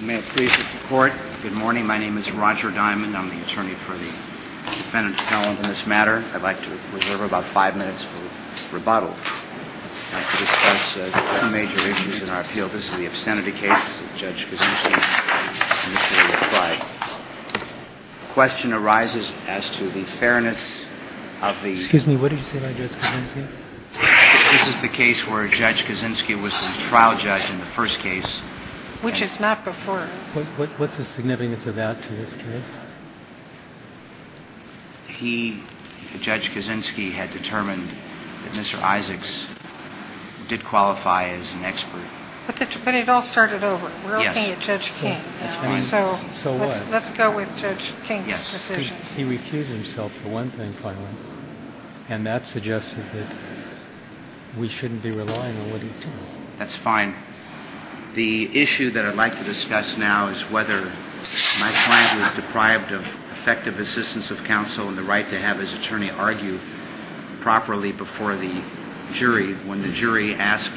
May it please the court. Good morning. My name is Roger Diamond. I'm the attorney for the defendant's felon in this matter I'd like to reserve about five minutes for rebuttal Major issues in our appeal. This is the obscenity case Question arises as to the fairness of the excuse me. What did you say? This is the case where Judge Kaczynski was the trial judge in the first case, which is not before. What's the significance of that to this case? He, Judge Kaczynski, had determined that Mr. Isaacs did qualify as an expert. But it all started over. We're looking at Judge King now. So let's go with Judge King's decisions. He recused himself for one thing finally, and that suggested that we shouldn't be relying on what he told us. That's fine. The issue that I'd like to discuss now is whether my client was deprived of effective assistance of counsel and the right to have his attorney argue properly before the jury when the jury asked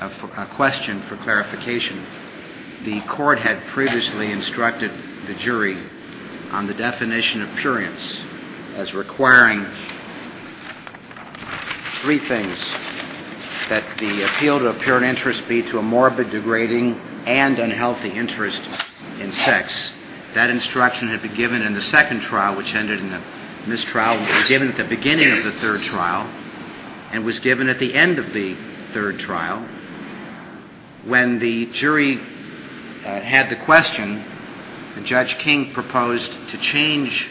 a question for clarification. The court had previously instructed the jury on the definition of purience as requiring three things, that the appeal to a pure interest be to a morbid, degrading, and unhealthy interest in sex. That instruction had been given in the second trial, which ended in a mistrial. It was given at the beginning of the third trial and was given at the end of the third trial. When the jury had the question, Judge King proposed to change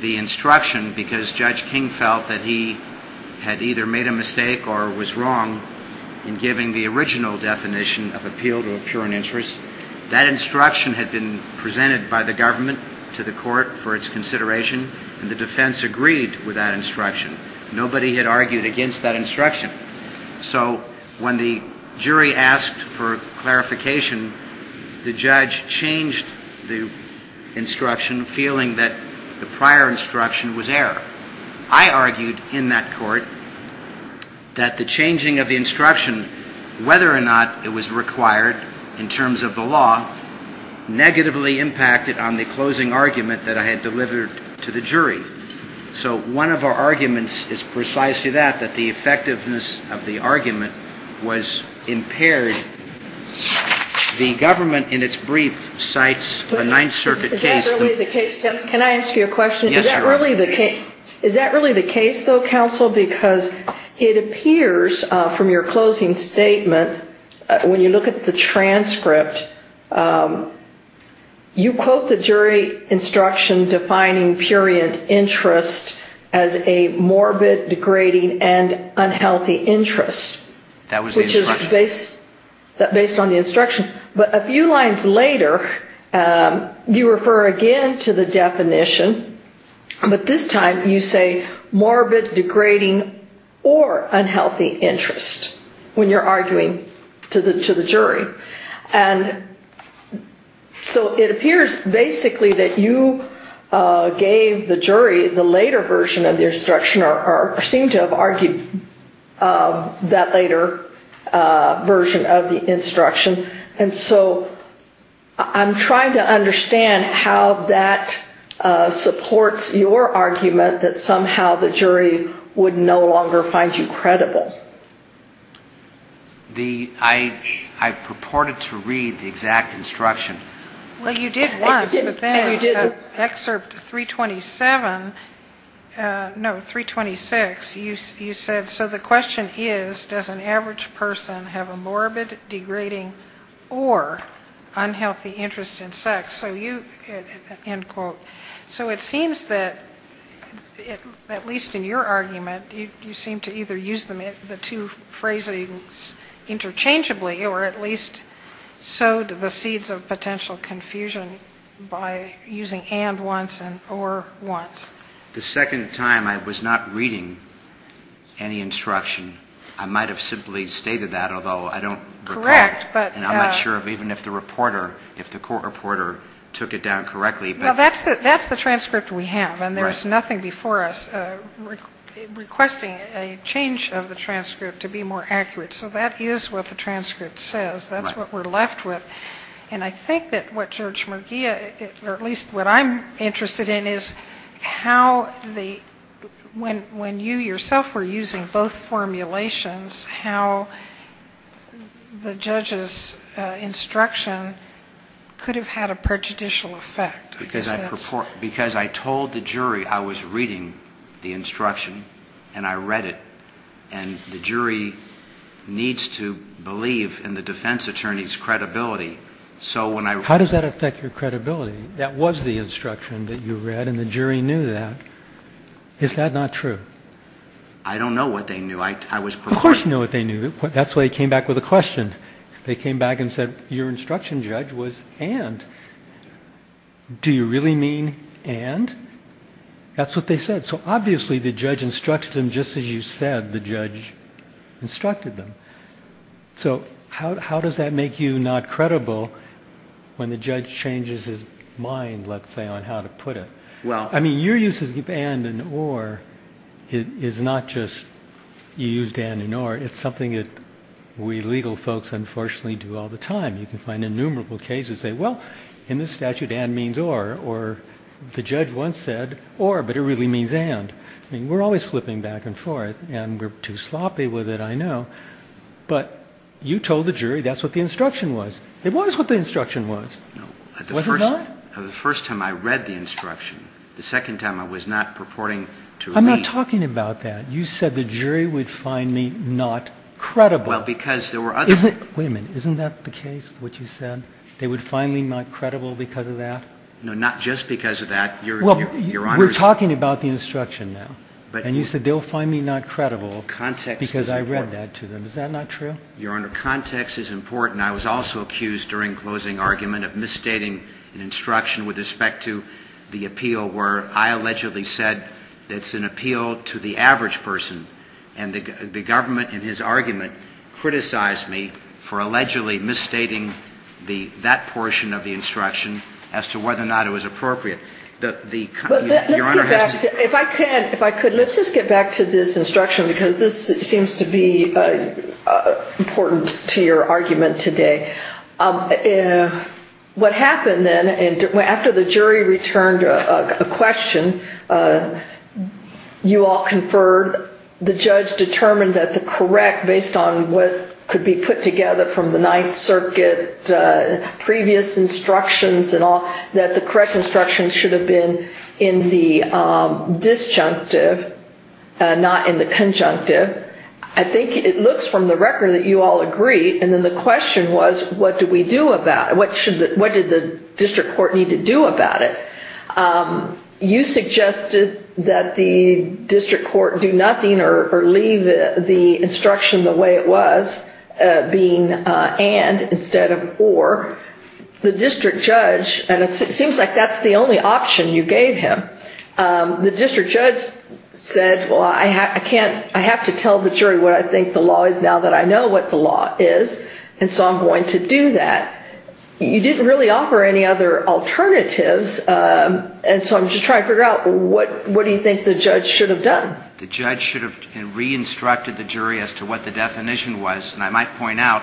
the instruction because Judge King felt that he had either made a mistake or was wrong in giving the original definition of appeal to a pure interest. That instruction had been presented by the government to the court for its consideration, and the defense agreed with that instruction. Nobody had argued against that instruction. So when the jury asked for clarification, the judge changed the instruction, feeling that the prior instruction was error. I argued in that court that the changing of the instruction, whether or not it was required in terms of the law, negatively impacted on the closing argument that I had delivered to the jury. So one of our arguments is precisely that, that the effectiveness of the argument was impaired. The government, in its brief, cites a Ninth Circuit case. Is that really the case? Can I ask you a question? Yes, Your Honor. Is that really the case? Is that really the case, though, counsel? Because it appears from your closing statement, when you look at the transcript, you quote the jury instruction defining pure interest as a morbid, degrading, and unhealthy interest. That was the instruction. That was based on the instruction. But a few lines later, you refer again to the definition, but this time you say morbid, degrading, or unhealthy interest when you're arguing to the jury. And so it appears, basically, that you gave the jury the later version of the instruction, or seemed to have argued that later version of the instruction. And so I'm trying to understand how that supports your argument that somehow the jury would no longer find you credible. I purported to read the exact instruction. Well, you did once, but then in Excerpt 327, no, 326, you said, so the question is, does an average person have a morbid, degrading, or unhealthy interest in sex? So it seems that, at least in your argument, you seem to either use the two phrasings interchangeably, or at least sowed the seeds of potential confusion by using and once and or once. The second time, I was not reading any instruction. I might have simply stated that, although I don't recall. Correct. And I'm not sure even if the reporter, if the court reporter took it down correctly. That's the transcript we have, and there's nothing before us requesting a change of the transcript to be more accurate. So that is what the transcript says. That's what we're left with. And I think that what Judge Mugia, or at least what I'm interested in, is how the, when you yourself were using both formulations, how the judge's instruction could have had a prejudicial effect. Because I told the jury I was reading the instruction, and I read it, and the jury needs to believe in the defense attorney's credibility. How does that affect your credibility? That was the instruction that you read, and the jury knew that. Is that not true? I don't know what they knew. Of course you know what they knew. That's why they came back with a question. They came back and said, your instruction, Judge, was and. Do you really mean and? That's what they said. So obviously the judge instructed them just as you said the judge instructed them. So how does that make you not credible when the judge changes his mind, let's say, on how to put it? I mean, your use of and and or is not just you used and and or. It's something that we legal folks unfortunately do all the time. You can find innumerable cases that say, well, in this statute and means or, or the judge once said or, but it really means and. I mean, we're always flipping back and forth, and we're too sloppy with it, I know. But you told the jury that's what the instruction was. It was what the instruction was. Was it not? The first time I read the instruction, the second time I was not purporting to. I'm not talking about that. You said the jury would find me not credible because there were other women. Isn't that the case? What you said they would finally not credible because of that. No, not just because of that. You're talking about the instruction now. But you said they'll find me not credible because I read that to them. Is that not true? Your Honor, context is important. I was also accused during closing argument of misstating an instruction with respect to the appeal where I allegedly said it's an appeal to the average person. And the government in his argument criticized me for allegedly misstating that portion of the instruction as to whether or not it was appropriate. If I could, let's just get back to this instruction because this seems to be important to your argument today. What happened then after the jury returned a question, you all conferred. The judge determined that the correct, based on what could be put together from the Ninth Circuit, previous instructions and all, that the correct instructions should have been in the disjunctive, not in the conjunctive. I think it looks from the record that you all agree. And then the question was, what do we do about it? What did the district court need to do about it? You suggested that the district court do nothing or leave the instruction the way it was, being and instead of or. The district judge, and it seems like that's the only option you gave him. The district judge said, well, I have to tell the jury what I think the law is now that I know what the law is. And so I'm going to do that. You didn't really offer any other alternatives. And so I'm just trying to figure out what do you think the judge should have done? The judge should have re-instructed the jury as to what the definition was. And I might point out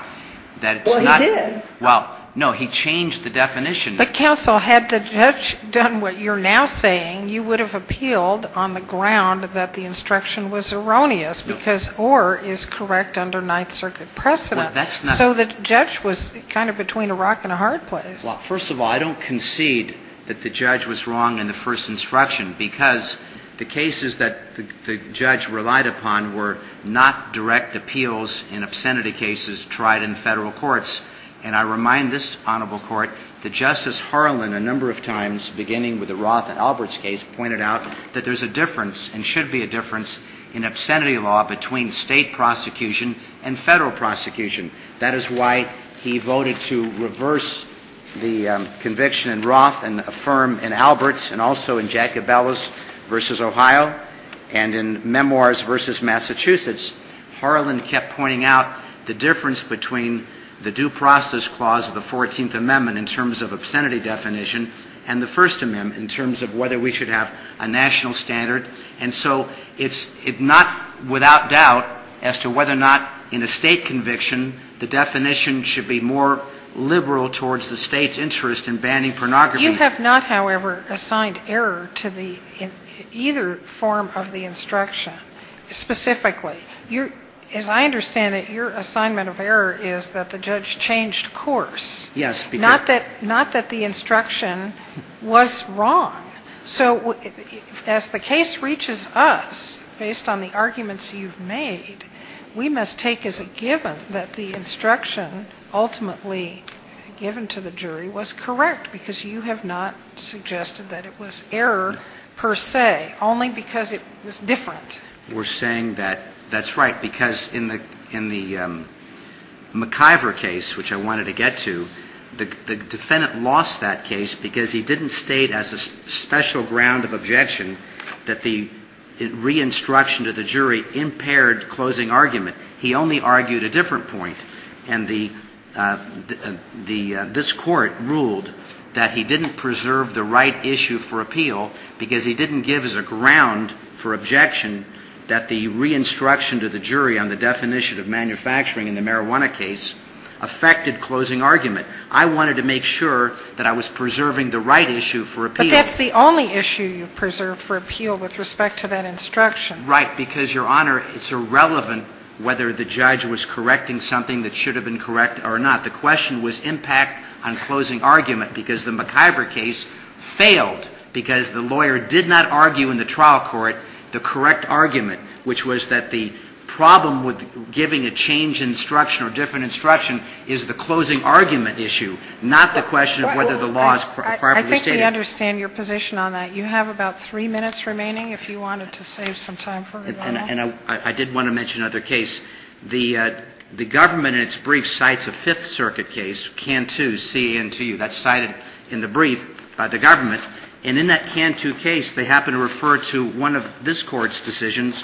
that it's not. Well, he did. Well, no, he changed the definition. But, counsel, had the judge done what you're now saying, you would have appealed on the ground that the instruction was erroneous because or is correct under Ninth Circuit precedent. Well, that's not. So the judge was kind of between a rock and a hard place. Well, first of all, I don't concede that the judge was wrong in the first instruction because the cases that the judge relied upon were not direct appeals in obscenity cases tried in Federal courts. And I remind this honorable court that Justice Harlan, a number of times, beginning with the Roth and Alberts case, pointed out that there's a difference and should be a difference in obscenity law between state prosecution and Federal prosecution. That is why he voted to reverse the conviction in Roth and affirm in Alberts and also in Jacobellis v. Ohio and in Memoirs v. Massachusetts. Harlan kept pointing out the difference between the due process clause of the Fourteenth Amendment in terms of obscenity definition and the First Amendment in terms of whether we should have a national standard. And so it's not without doubt as to whether or not in a State conviction the definition should be more liberal towards the State's interest in banning pornography. But you have not, however, assigned error to either form of the instruction, specifically. As I understand it, your assignment of error is that the judge changed course. Yes. Not that the instruction was wrong. So as the case reaches us, based on the arguments you've made, we must take as a given that the instruction ultimately given to the jury was correct, because you have not suggested that it was error per se, only because it was different. We're saying that that's right, because in the McIver case, which I wanted to get to, the defendant lost that case because he didn't state as a special ground of objection that the re-instruction to the jury impaired closing argument. He only argued a different point. And this Court ruled that he didn't preserve the right issue for appeal because he didn't give as a ground for objection that the re-instruction to the jury on the definition of manufacturing in the marijuana case affected closing argument. I wanted to make sure that I was preserving the right issue for appeal. But that's the only issue you preserved for appeal with respect to that instruction. Right. Because, Your Honor, it's irrelevant whether the judge was correcting something that should have been correct or not. The question was impact on closing argument, because the McIver case failed, because the lawyer did not argue in the trial court the correct argument, which was that the problem with giving a change instruction or different instruction is the closing argument issue, not the question of whether the law is properly stated. I think we understand your position on that. You have about three minutes remaining, if you wanted to save some time for it, Your Honor. And I did want to mention another case. The government, in its brief, cites a Fifth Circuit case, Cantu, C-A-N-T-U. That's cited in the brief by the government. And in that Cantu case, they happen to refer to one of this Court's decisions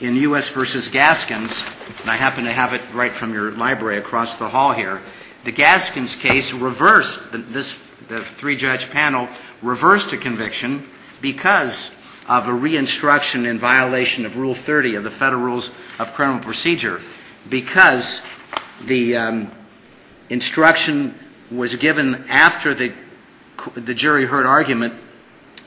in U.S. v. Gaskins, and I happen to have it right from your library across the hall here. The Gaskins case reversed, the three-judge panel reversed a conviction because of a re-instruction in violation of Rule 30 of the Federal Rules of Criminal Procedure, because the instruction was given after the jury heard argument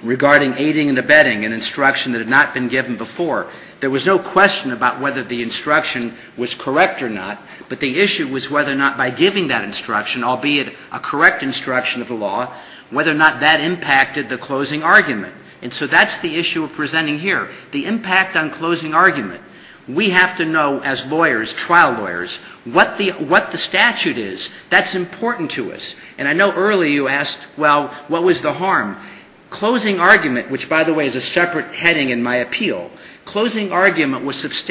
regarding aiding and abetting, an instruction that had not been given before. There was no question about whether the instruction was correct or not, but the issue was whether or not by giving that instruction, albeit a correct instruction of the law, whether or not that impacted the closing argument. And so that's the issue we're presenting here, the impact on closing argument. We have to know as lawyers, trial lawyers, what the statute is. That's important to us. And I know earlier you asked, well, what was the harm? Closing argument, which, by the way, is a separate heading in my appeal, closing objections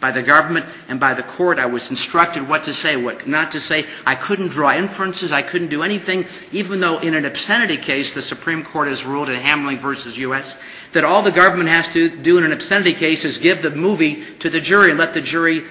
by the government and by the court. I was instructed what to say, what not to say. I couldn't draw inferences. I couldn't do anything, even though in an obscenity case the Supreme Court has ruled in Hamlin v. U.S. that all the government has to do in an obscenity case is give the movie to the jury and let the jury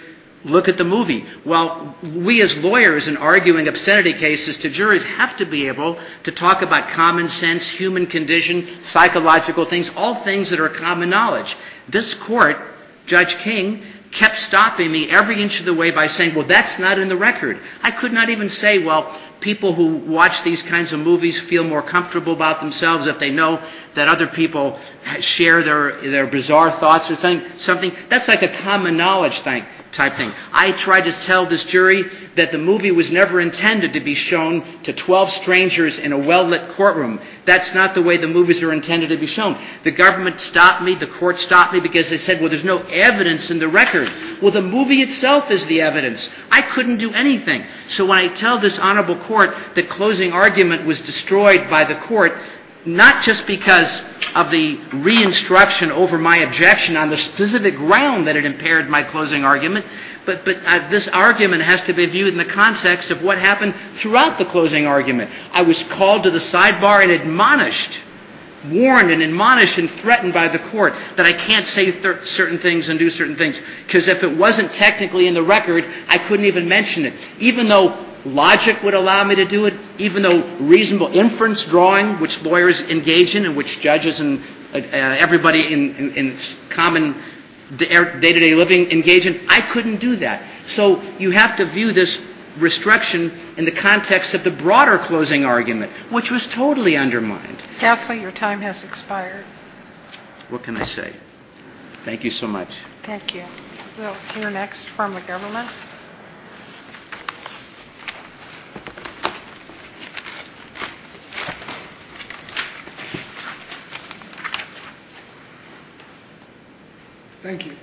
look at the movie. Well, we as lawyers in arguing obscenity cases to juries have to be able to talk about common sense, human condition, psychological things, all things that are common knowledge. This court, Judge King, kept stopping me every inch of the way by saying, well, that's not in the record. I could not even say, well, people who watch these kinds of movies feel more comfortable about themselves if they know that other people share their bizarre thoughts or something. That's like a common knowledge type thing. I tried to tell this jury that the movie was never intended to be shown to 12 strangers in a well-lit courtroom. That's not the way the movies are intended to be shown. The government stopped me. The court stopped me because they said, well, there's no evidence in the record. Well, the movie itself is the evidence. I couldn't do anything. So when I tell this Honorable Court that closing argument was destroyed by the court, not just because of the re-instruction over my objection on the specific ground that it impaired my closing argument, but this argument has to be viewed in the context of what happened throughout the closing argument. I was called to the sidebar and admonished, warned and admonished and threatened by the court that I can't say certain things and do certain things because if it wasn't technically in the record, I couldn't even mention it. Even though logic would allow me to do it, even though reasonable inference drawing, which lawyers engage in and which judges and everybody in common day-to-day living engage in, I couldn't do that. So you have to view this restriction in the context of the broader closing argument, which was totally undermined. Counsel, your time has expired. What can I say? Thank you so much. Thank you. We'll hear next from the government. Thank you.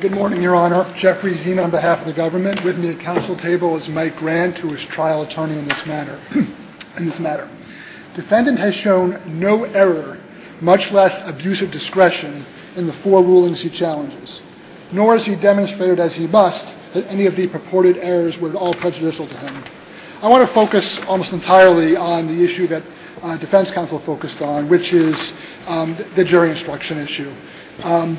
Good morning, Your Honor. I'm Mark Jeffrey Zeme on behalf of the government. With me at counsel table is Mike Grant, who is trial attorney in this matter. Defendant has shown no error, much less abusive discretion in the four rulings he challenges, nor has he demonstrated as he must that any of the purported errors were at all prejudicial to him. I want to focus almost entirely on the issue that defense counsel focused on, which is the jury instruction issue. And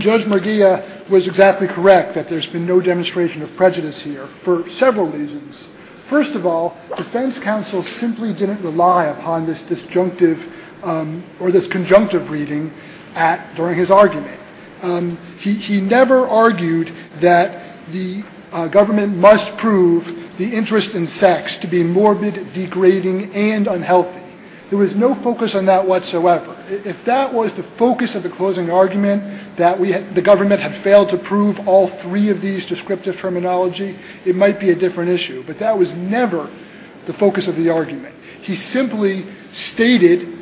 Judge Merguia was exactly correct that there's been no demonstration of prejudice here for several reasons. First of all, defense counsel simply didn't rely upon this disjunctive or this conjunctive reading during his argument. He never argued that the government must prove the interest in sex to be morbid, degrading, and unhealthy. There was no focus on that whatsoever. If that was the focus of the closing argument, that the government had failed to prove all three of these descriptive terminology, it might be a different issue. But that was never the focus of the argument. He simply stated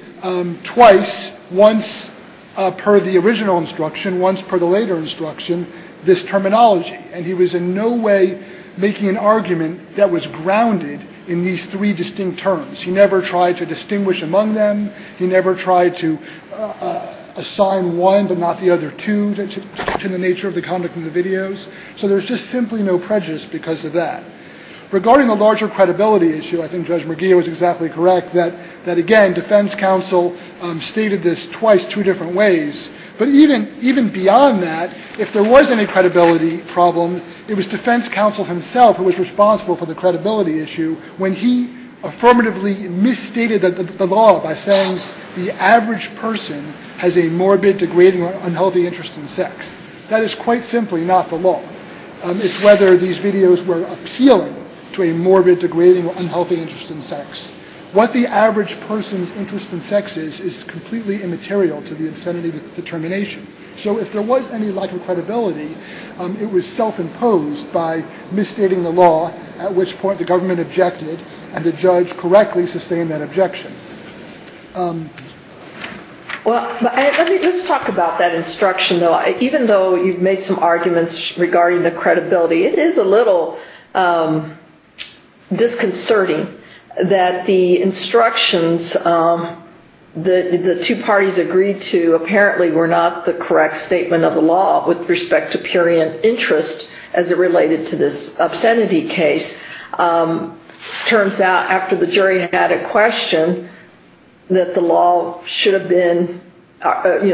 twice, once per the original instruction, once per the later instruction, this terminology. And he was in no way making an argument that was grounded in these three distinct terms. He never tried to distinguish among them. He never tried to assign one but not the other two to the nature of the conduct in the videos. So there's just simply no prejudice because of that. Regarding the larger credibility issue, I think Judge Merguia was exactly correct that, again, defense counsel stated this twice two different ways. But even beyond that, if there was any credibility problem, it was defense counsel himself who was responsible for the credibility issue when he affirmatively misstated the law by saying the average person has a morbid, degrading, or unhealthy interest in sex. That is quite simply not the law. It's whether these videos were appealing to a morbid, degrading, or unhealthy interest in sex. What the average person's interest in sex is is completely immaterial to the insanity determination. So if there was any lack of credibility, it was self-imposed by misstating the law at which point the government objected and the judge correctly sustained that objection. Well, let me just talk about that instruction, though. Even though you've made some arguments regarding the credibility, it is a little disconcerting that the instructions that the two parties agreed to apparently were not the correct statement of the law with respect to purient interest as it was in the Kennedy case. It turns out after the jury had a question that the law should have been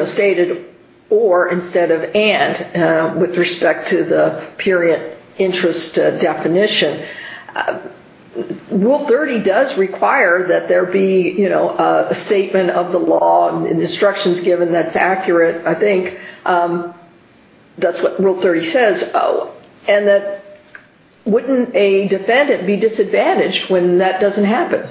stated or instead of and with respect to the purient interest definition. Rule 30 does require that there be a statement of the law and instructions given that's accurate, I think. That's what Rule 30 says. And that wouldn't a defendant be disadvantaged when that doesn't happen?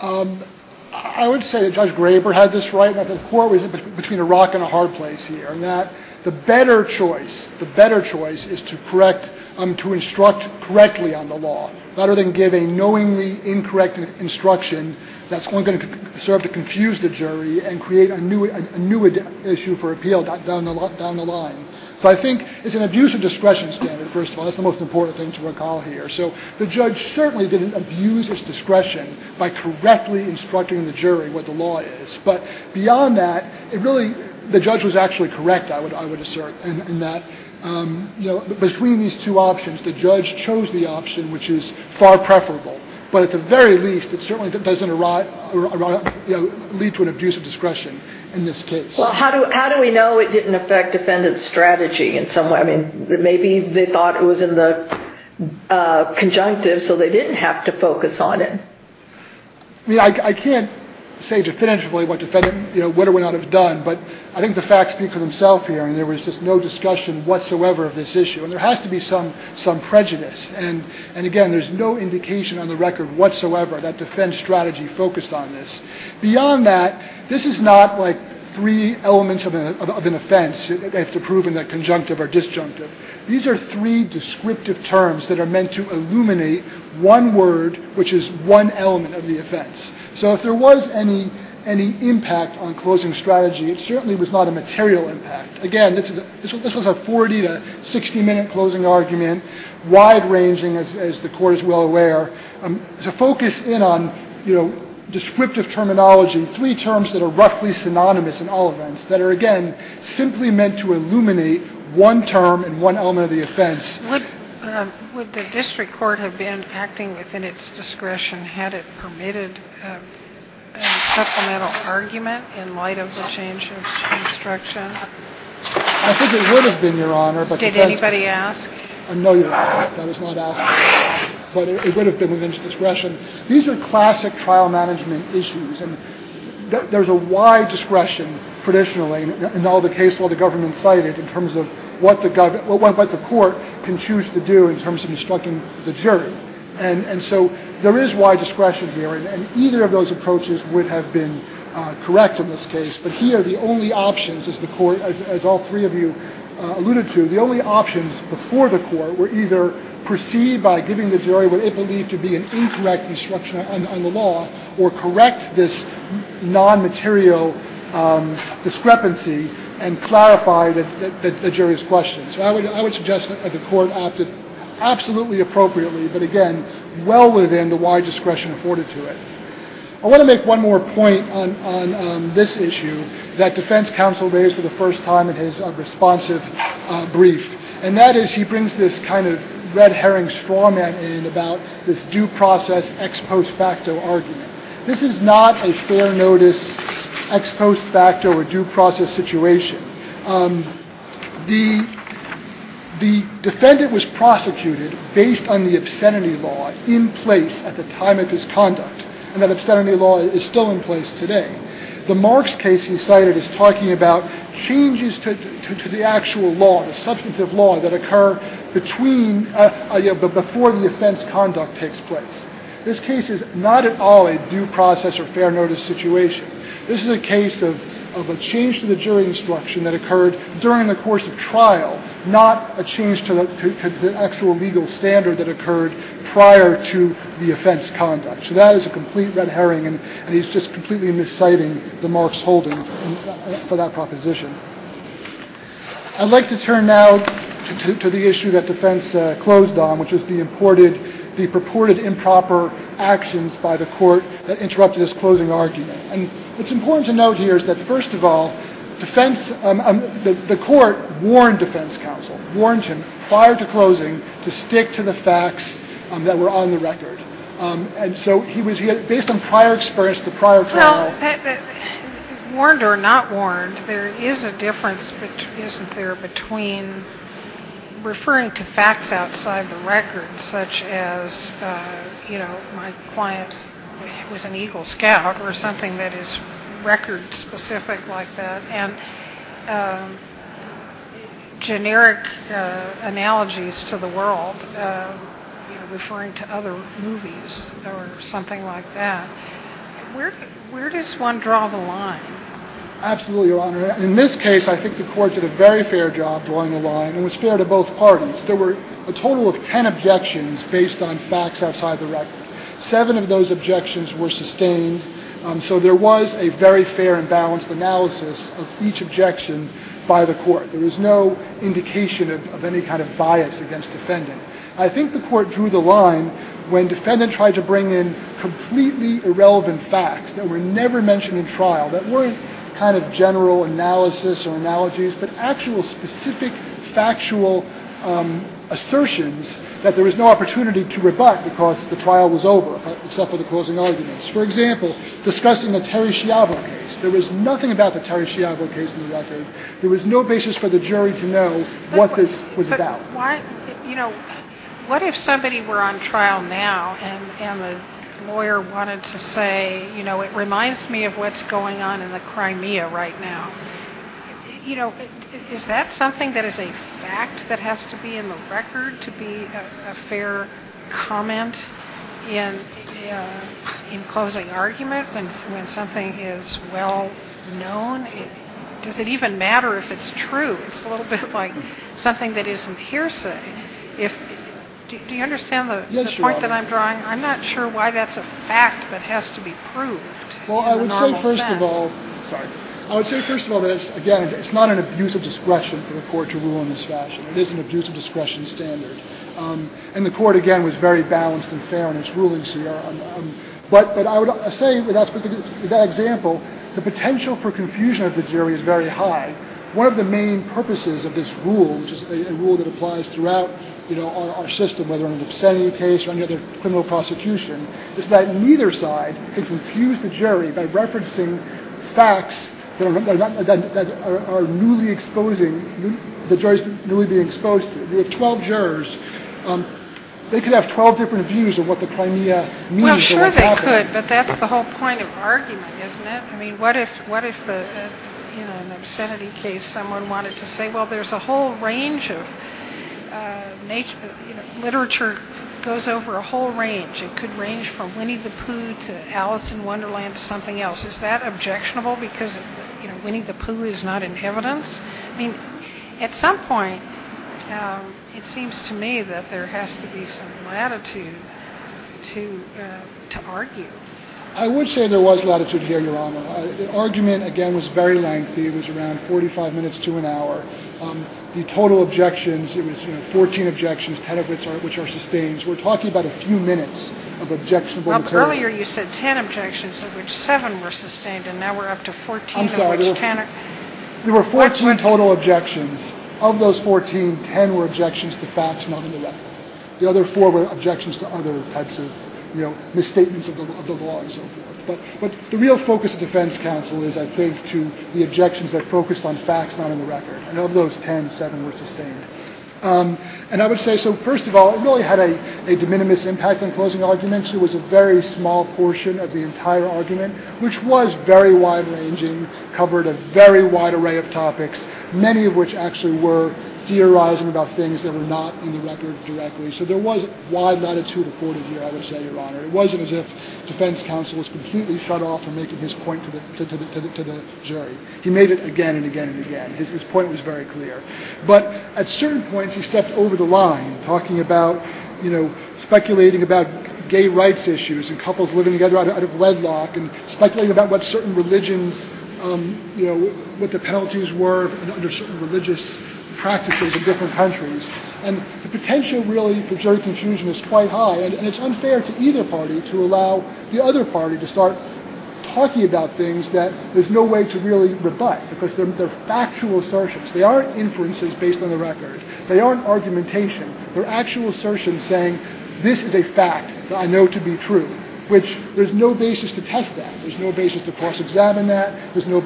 I would say that Judge Graber had this right. The court was between a rock and a hard place here in that the better choice, the better choice is to correct, to instruct correctly on the law rather than give a knowingly incorrect instruction that's only going to serve to confuse the jury and create a new issue for appeal down the line. So I think it's an abuse of discretion standard, first of all. That's the most important thing to recall here. So the judge certainly didn't abuse his discretion by correctly instructing the jury what the law is. But beyond that, the judge was actually correct, I would assert, in that between these two options, the judge chose the option which is far preferable. But at the very least, it certainly doesn't lead to an abuse of discretion in this case. Well, how do we know it didn't affect defendant's strategy in some way? I mean, maybe they thought it was in the conjunctive, so they didn't have to focus on it. I mean, I can't say definitively what a defendant would or would not have done. But I think the facts speak for themselves here, and there was just no discussion whatsoever of this issue. And there has to be some prejudice. And, again, there's no indication on the record whatsoever that defense strategy focused on this. Beyond that, this is not like three elements of an offense that they have to prove in the conjunctive or disjunctive. These are three descriptive terms that are meant to illuminate one word, which is one element of the offense. So if there was any impact on closing strategy, it certainly was not a material impact. Again, this was a 40 to 60-minute closing argument, wide-ranging, as the Court is well aware. To focus in on, you know, descriptive terminology, three terms that are roughly synonymous in all events, that are, again, simply meant to illuminate one term and one element of the offense. Would the district court have been acting within its discretion had it permitted a supplemental argument in light of the change of construction? I think it would have been, Your Honor. Did anybody ask? No, Your Honor. That was not asked. But it would have been within its discretion. These are classic trial management issues. And there's a wide discretion, traditionally, in all the cases the government cited in terms of what the court can choose to do in terms of instructing the jury. And so there is wide discretion here. And either of those approaches would have been correct in this case. But here, the only options, as the Court, as all three of you alluded to, the only options before the Court were either proceed by giving the jury what it believed to be an incorrect instruction on the law, or correct this non-material discrepancy and clarify the jury's questions. So I would suggest that the Court acted absolutely appropriately, but, again, well within the wide discretion afforded to it. I want to make one more point on this issue that defense counsel raised for the first time in his responsive brief, and that is he brings this kind of red herring straw man in about this due process ex post facto argument. This is not a fair notice ex post facto or due process situation. The defendant was prosecuted based on the obscenity law in place at the time of his conduct, and that obscenity law is still in place today. The Marks case he cited is talking about changes to the actual law, the substantive law, that occur between, before the offense conduct takes place. This case is not at all a due process or fair notice situation. This is a case of a change to the jury instruction that occurred during the course of trial, not a change to the actual legal standard that occurred prior to the offense conduct. So that is a complete red herring, and he's just completely misciting the Marks holding for that proposition. I'd like to turn now to the issue that defense closed on, which was the purported improper actions by the Court that interrupted his closing argument. And what's important to note here is that, first of all, the Court warned defense counsel, warned him prior to closing to stick to the facts that were on the record. And so he was, based on prior experience, the prior trial... Well, warned or not warned, there is a difference, isn't there, between referring to facts outside the record, such as, you know, my client was an Eagle Scout, or generic analogies to the world, you know, referring to other movies or something like that. Where does one draw the line? Absolutely, Your Honor. In this case, I think the Court did a very fair job drawing the line and was fair to both parties. There were a total of ten objections based on facts outside the record. each objection by the Court. There was no indication of any kind of bias against defendant. I think the Court drew the line when defendant tried to bring in completely irrelevant facts that were never mentioned in trial, that weren't kind of general analysis or analogies, but actual specific factual assertions that there was no opportunity to rebut because the trial was over, except for the closing arguments. For example, discussing the Terry Schiavo case. There was nothing about the Terry Schiavo case in the record. There was no basis for the jury to know what this was about. But, you know, what if somebody were on trial now and the lawyer wanted to say, you know, it reminds me of what's going on in the Crimea right now. You know, is that something that is a fact that has to be in the record to be a closing argument when something is well known? Does it even matter if it's true? It's a little bit like something that isn't hearsay. Do you understand the point that I'm drawing? I'm not sure why that's a fact that has to be proved in the normal sense. Well, I would say first of all that it's not an abuse of discretion for the Court to rule in this fashion. It is an abuse of discretion standard. And the Court, again, was very balanced and fair in its rulings here. But I would say, with that example, the potential for confusion of the jury is very high. One of the main purposes of this rule, which is a rule that applies throughout, you know, our system, whether in an obscenity case or any other criminal prosecution, is that neither side can confuse the jury by referencing facts that are newly exposing, the jury is newly being exposed to. We have 12 jurors. They could have 12 different views of what the Crimea means or what's happening. Well, sure they could, but that's the whole point of argument, isn't it? I mean, what if, you know, in an obscenity case someone wanted to say, well, there's a whole range of nature, you know, literature goes over a whole range. It could range from Winnie the Pooh to Alice in Wonderland to something else. Is that objectionable because, you know, Winnie the Pooh is not in evidence? I mean, at some point it seems to me that there has to be some latitude to argue. I would say there was latitude here, Your Honor. The argument, again, was very lengthy. It was around 45 minutes to an hour. The total objections, it was, you know, 14 objections, 10 of which are sustained. We're talking about a few minutes of objectionable material. Earlier you said 10 objections of which 7 were sustained, and now we're up to 14 of which 10 are. There were 14 total objections. Of those 14, 10 were objections to facts not in the record. The other 4 were objections to other types of, you know, misstatements of the law and so forth. But the real focus of defense counsel is, I think, to the objections that focused on facts not in the record. And of those 10, 7 were sustained. And I would say, so first of all, it really had a de minimis impact on closing arguments. It was a very small portion of the entire argument, which was very wide-ranging, covered a very wide array of topics, many of which actually were theorizing about things that were not in the record directly. So there was wide latitude afforded here, I would say, Your Honor. It wasn't as if defense counsel was completely shut off from making his point to the jury. He made it again and again and again. His point was very clear. But at certain points he stepped over the line, talking about, you know, speculating about gay rights issues and couples living together out of wedlock and speculating about what certain religions, you know, what the penalties were under certain religious practices in different countries. And the potential, really, for jury confusion is quite high. And it's unfair to either party to allow the other party to start talking about things that there's no way to really rebut because they're factual assertions. They aren't inferences based on the record. They aren't argumentation. They're actual assertions saying, this is a fact that I know to be true, which there's no basis to test that. There's no basis to cross-examine that. There's no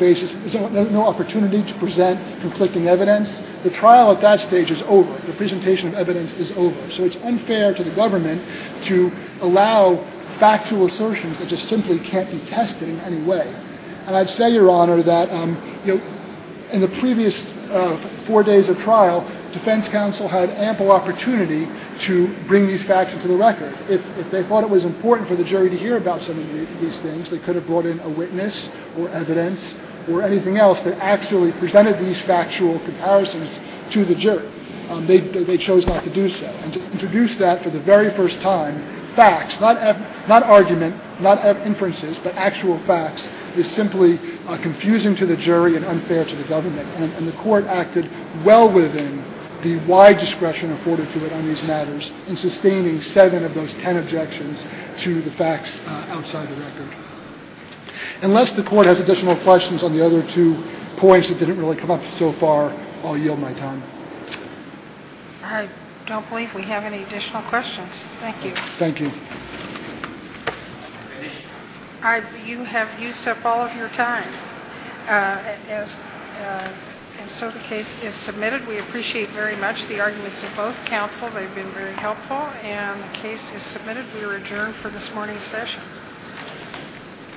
opportunity to present conflicting evidence. The trial at that stage is over. The presentation of evidence is over. So it's unfair to the government to allow factual assertions that just simply can't be tested in any way. And I'd say, Your Honor, that in the previous four days of trial, defense counsel had ample opportunity to bring these facts into the record. If they thought it was important for the jury to hear about some of these things, they could have brought in a witness or evidence or anything else that actually presented these factual comparisons to the jury. They chose not to do so. And to introduce that for the very first time, facts, not argument, not inferences, but actual facts is simply confusing to the jury and unfair to the government. And the court acted well within the wide discretion afforded to it on these matters in sustaining seven of those ten objections to the facts outside the record. Unless the court has additional questions on the other two points that didn't really come up so far, I'll yield my time. I don't believe we have any additional questions. Thank you. Thank you. You have used up all of your time. And so the case is submitted. We appreciate very much the arguments of both counsel. They've been very helpful. And the case is submitted. We are adjourned for this morning's session.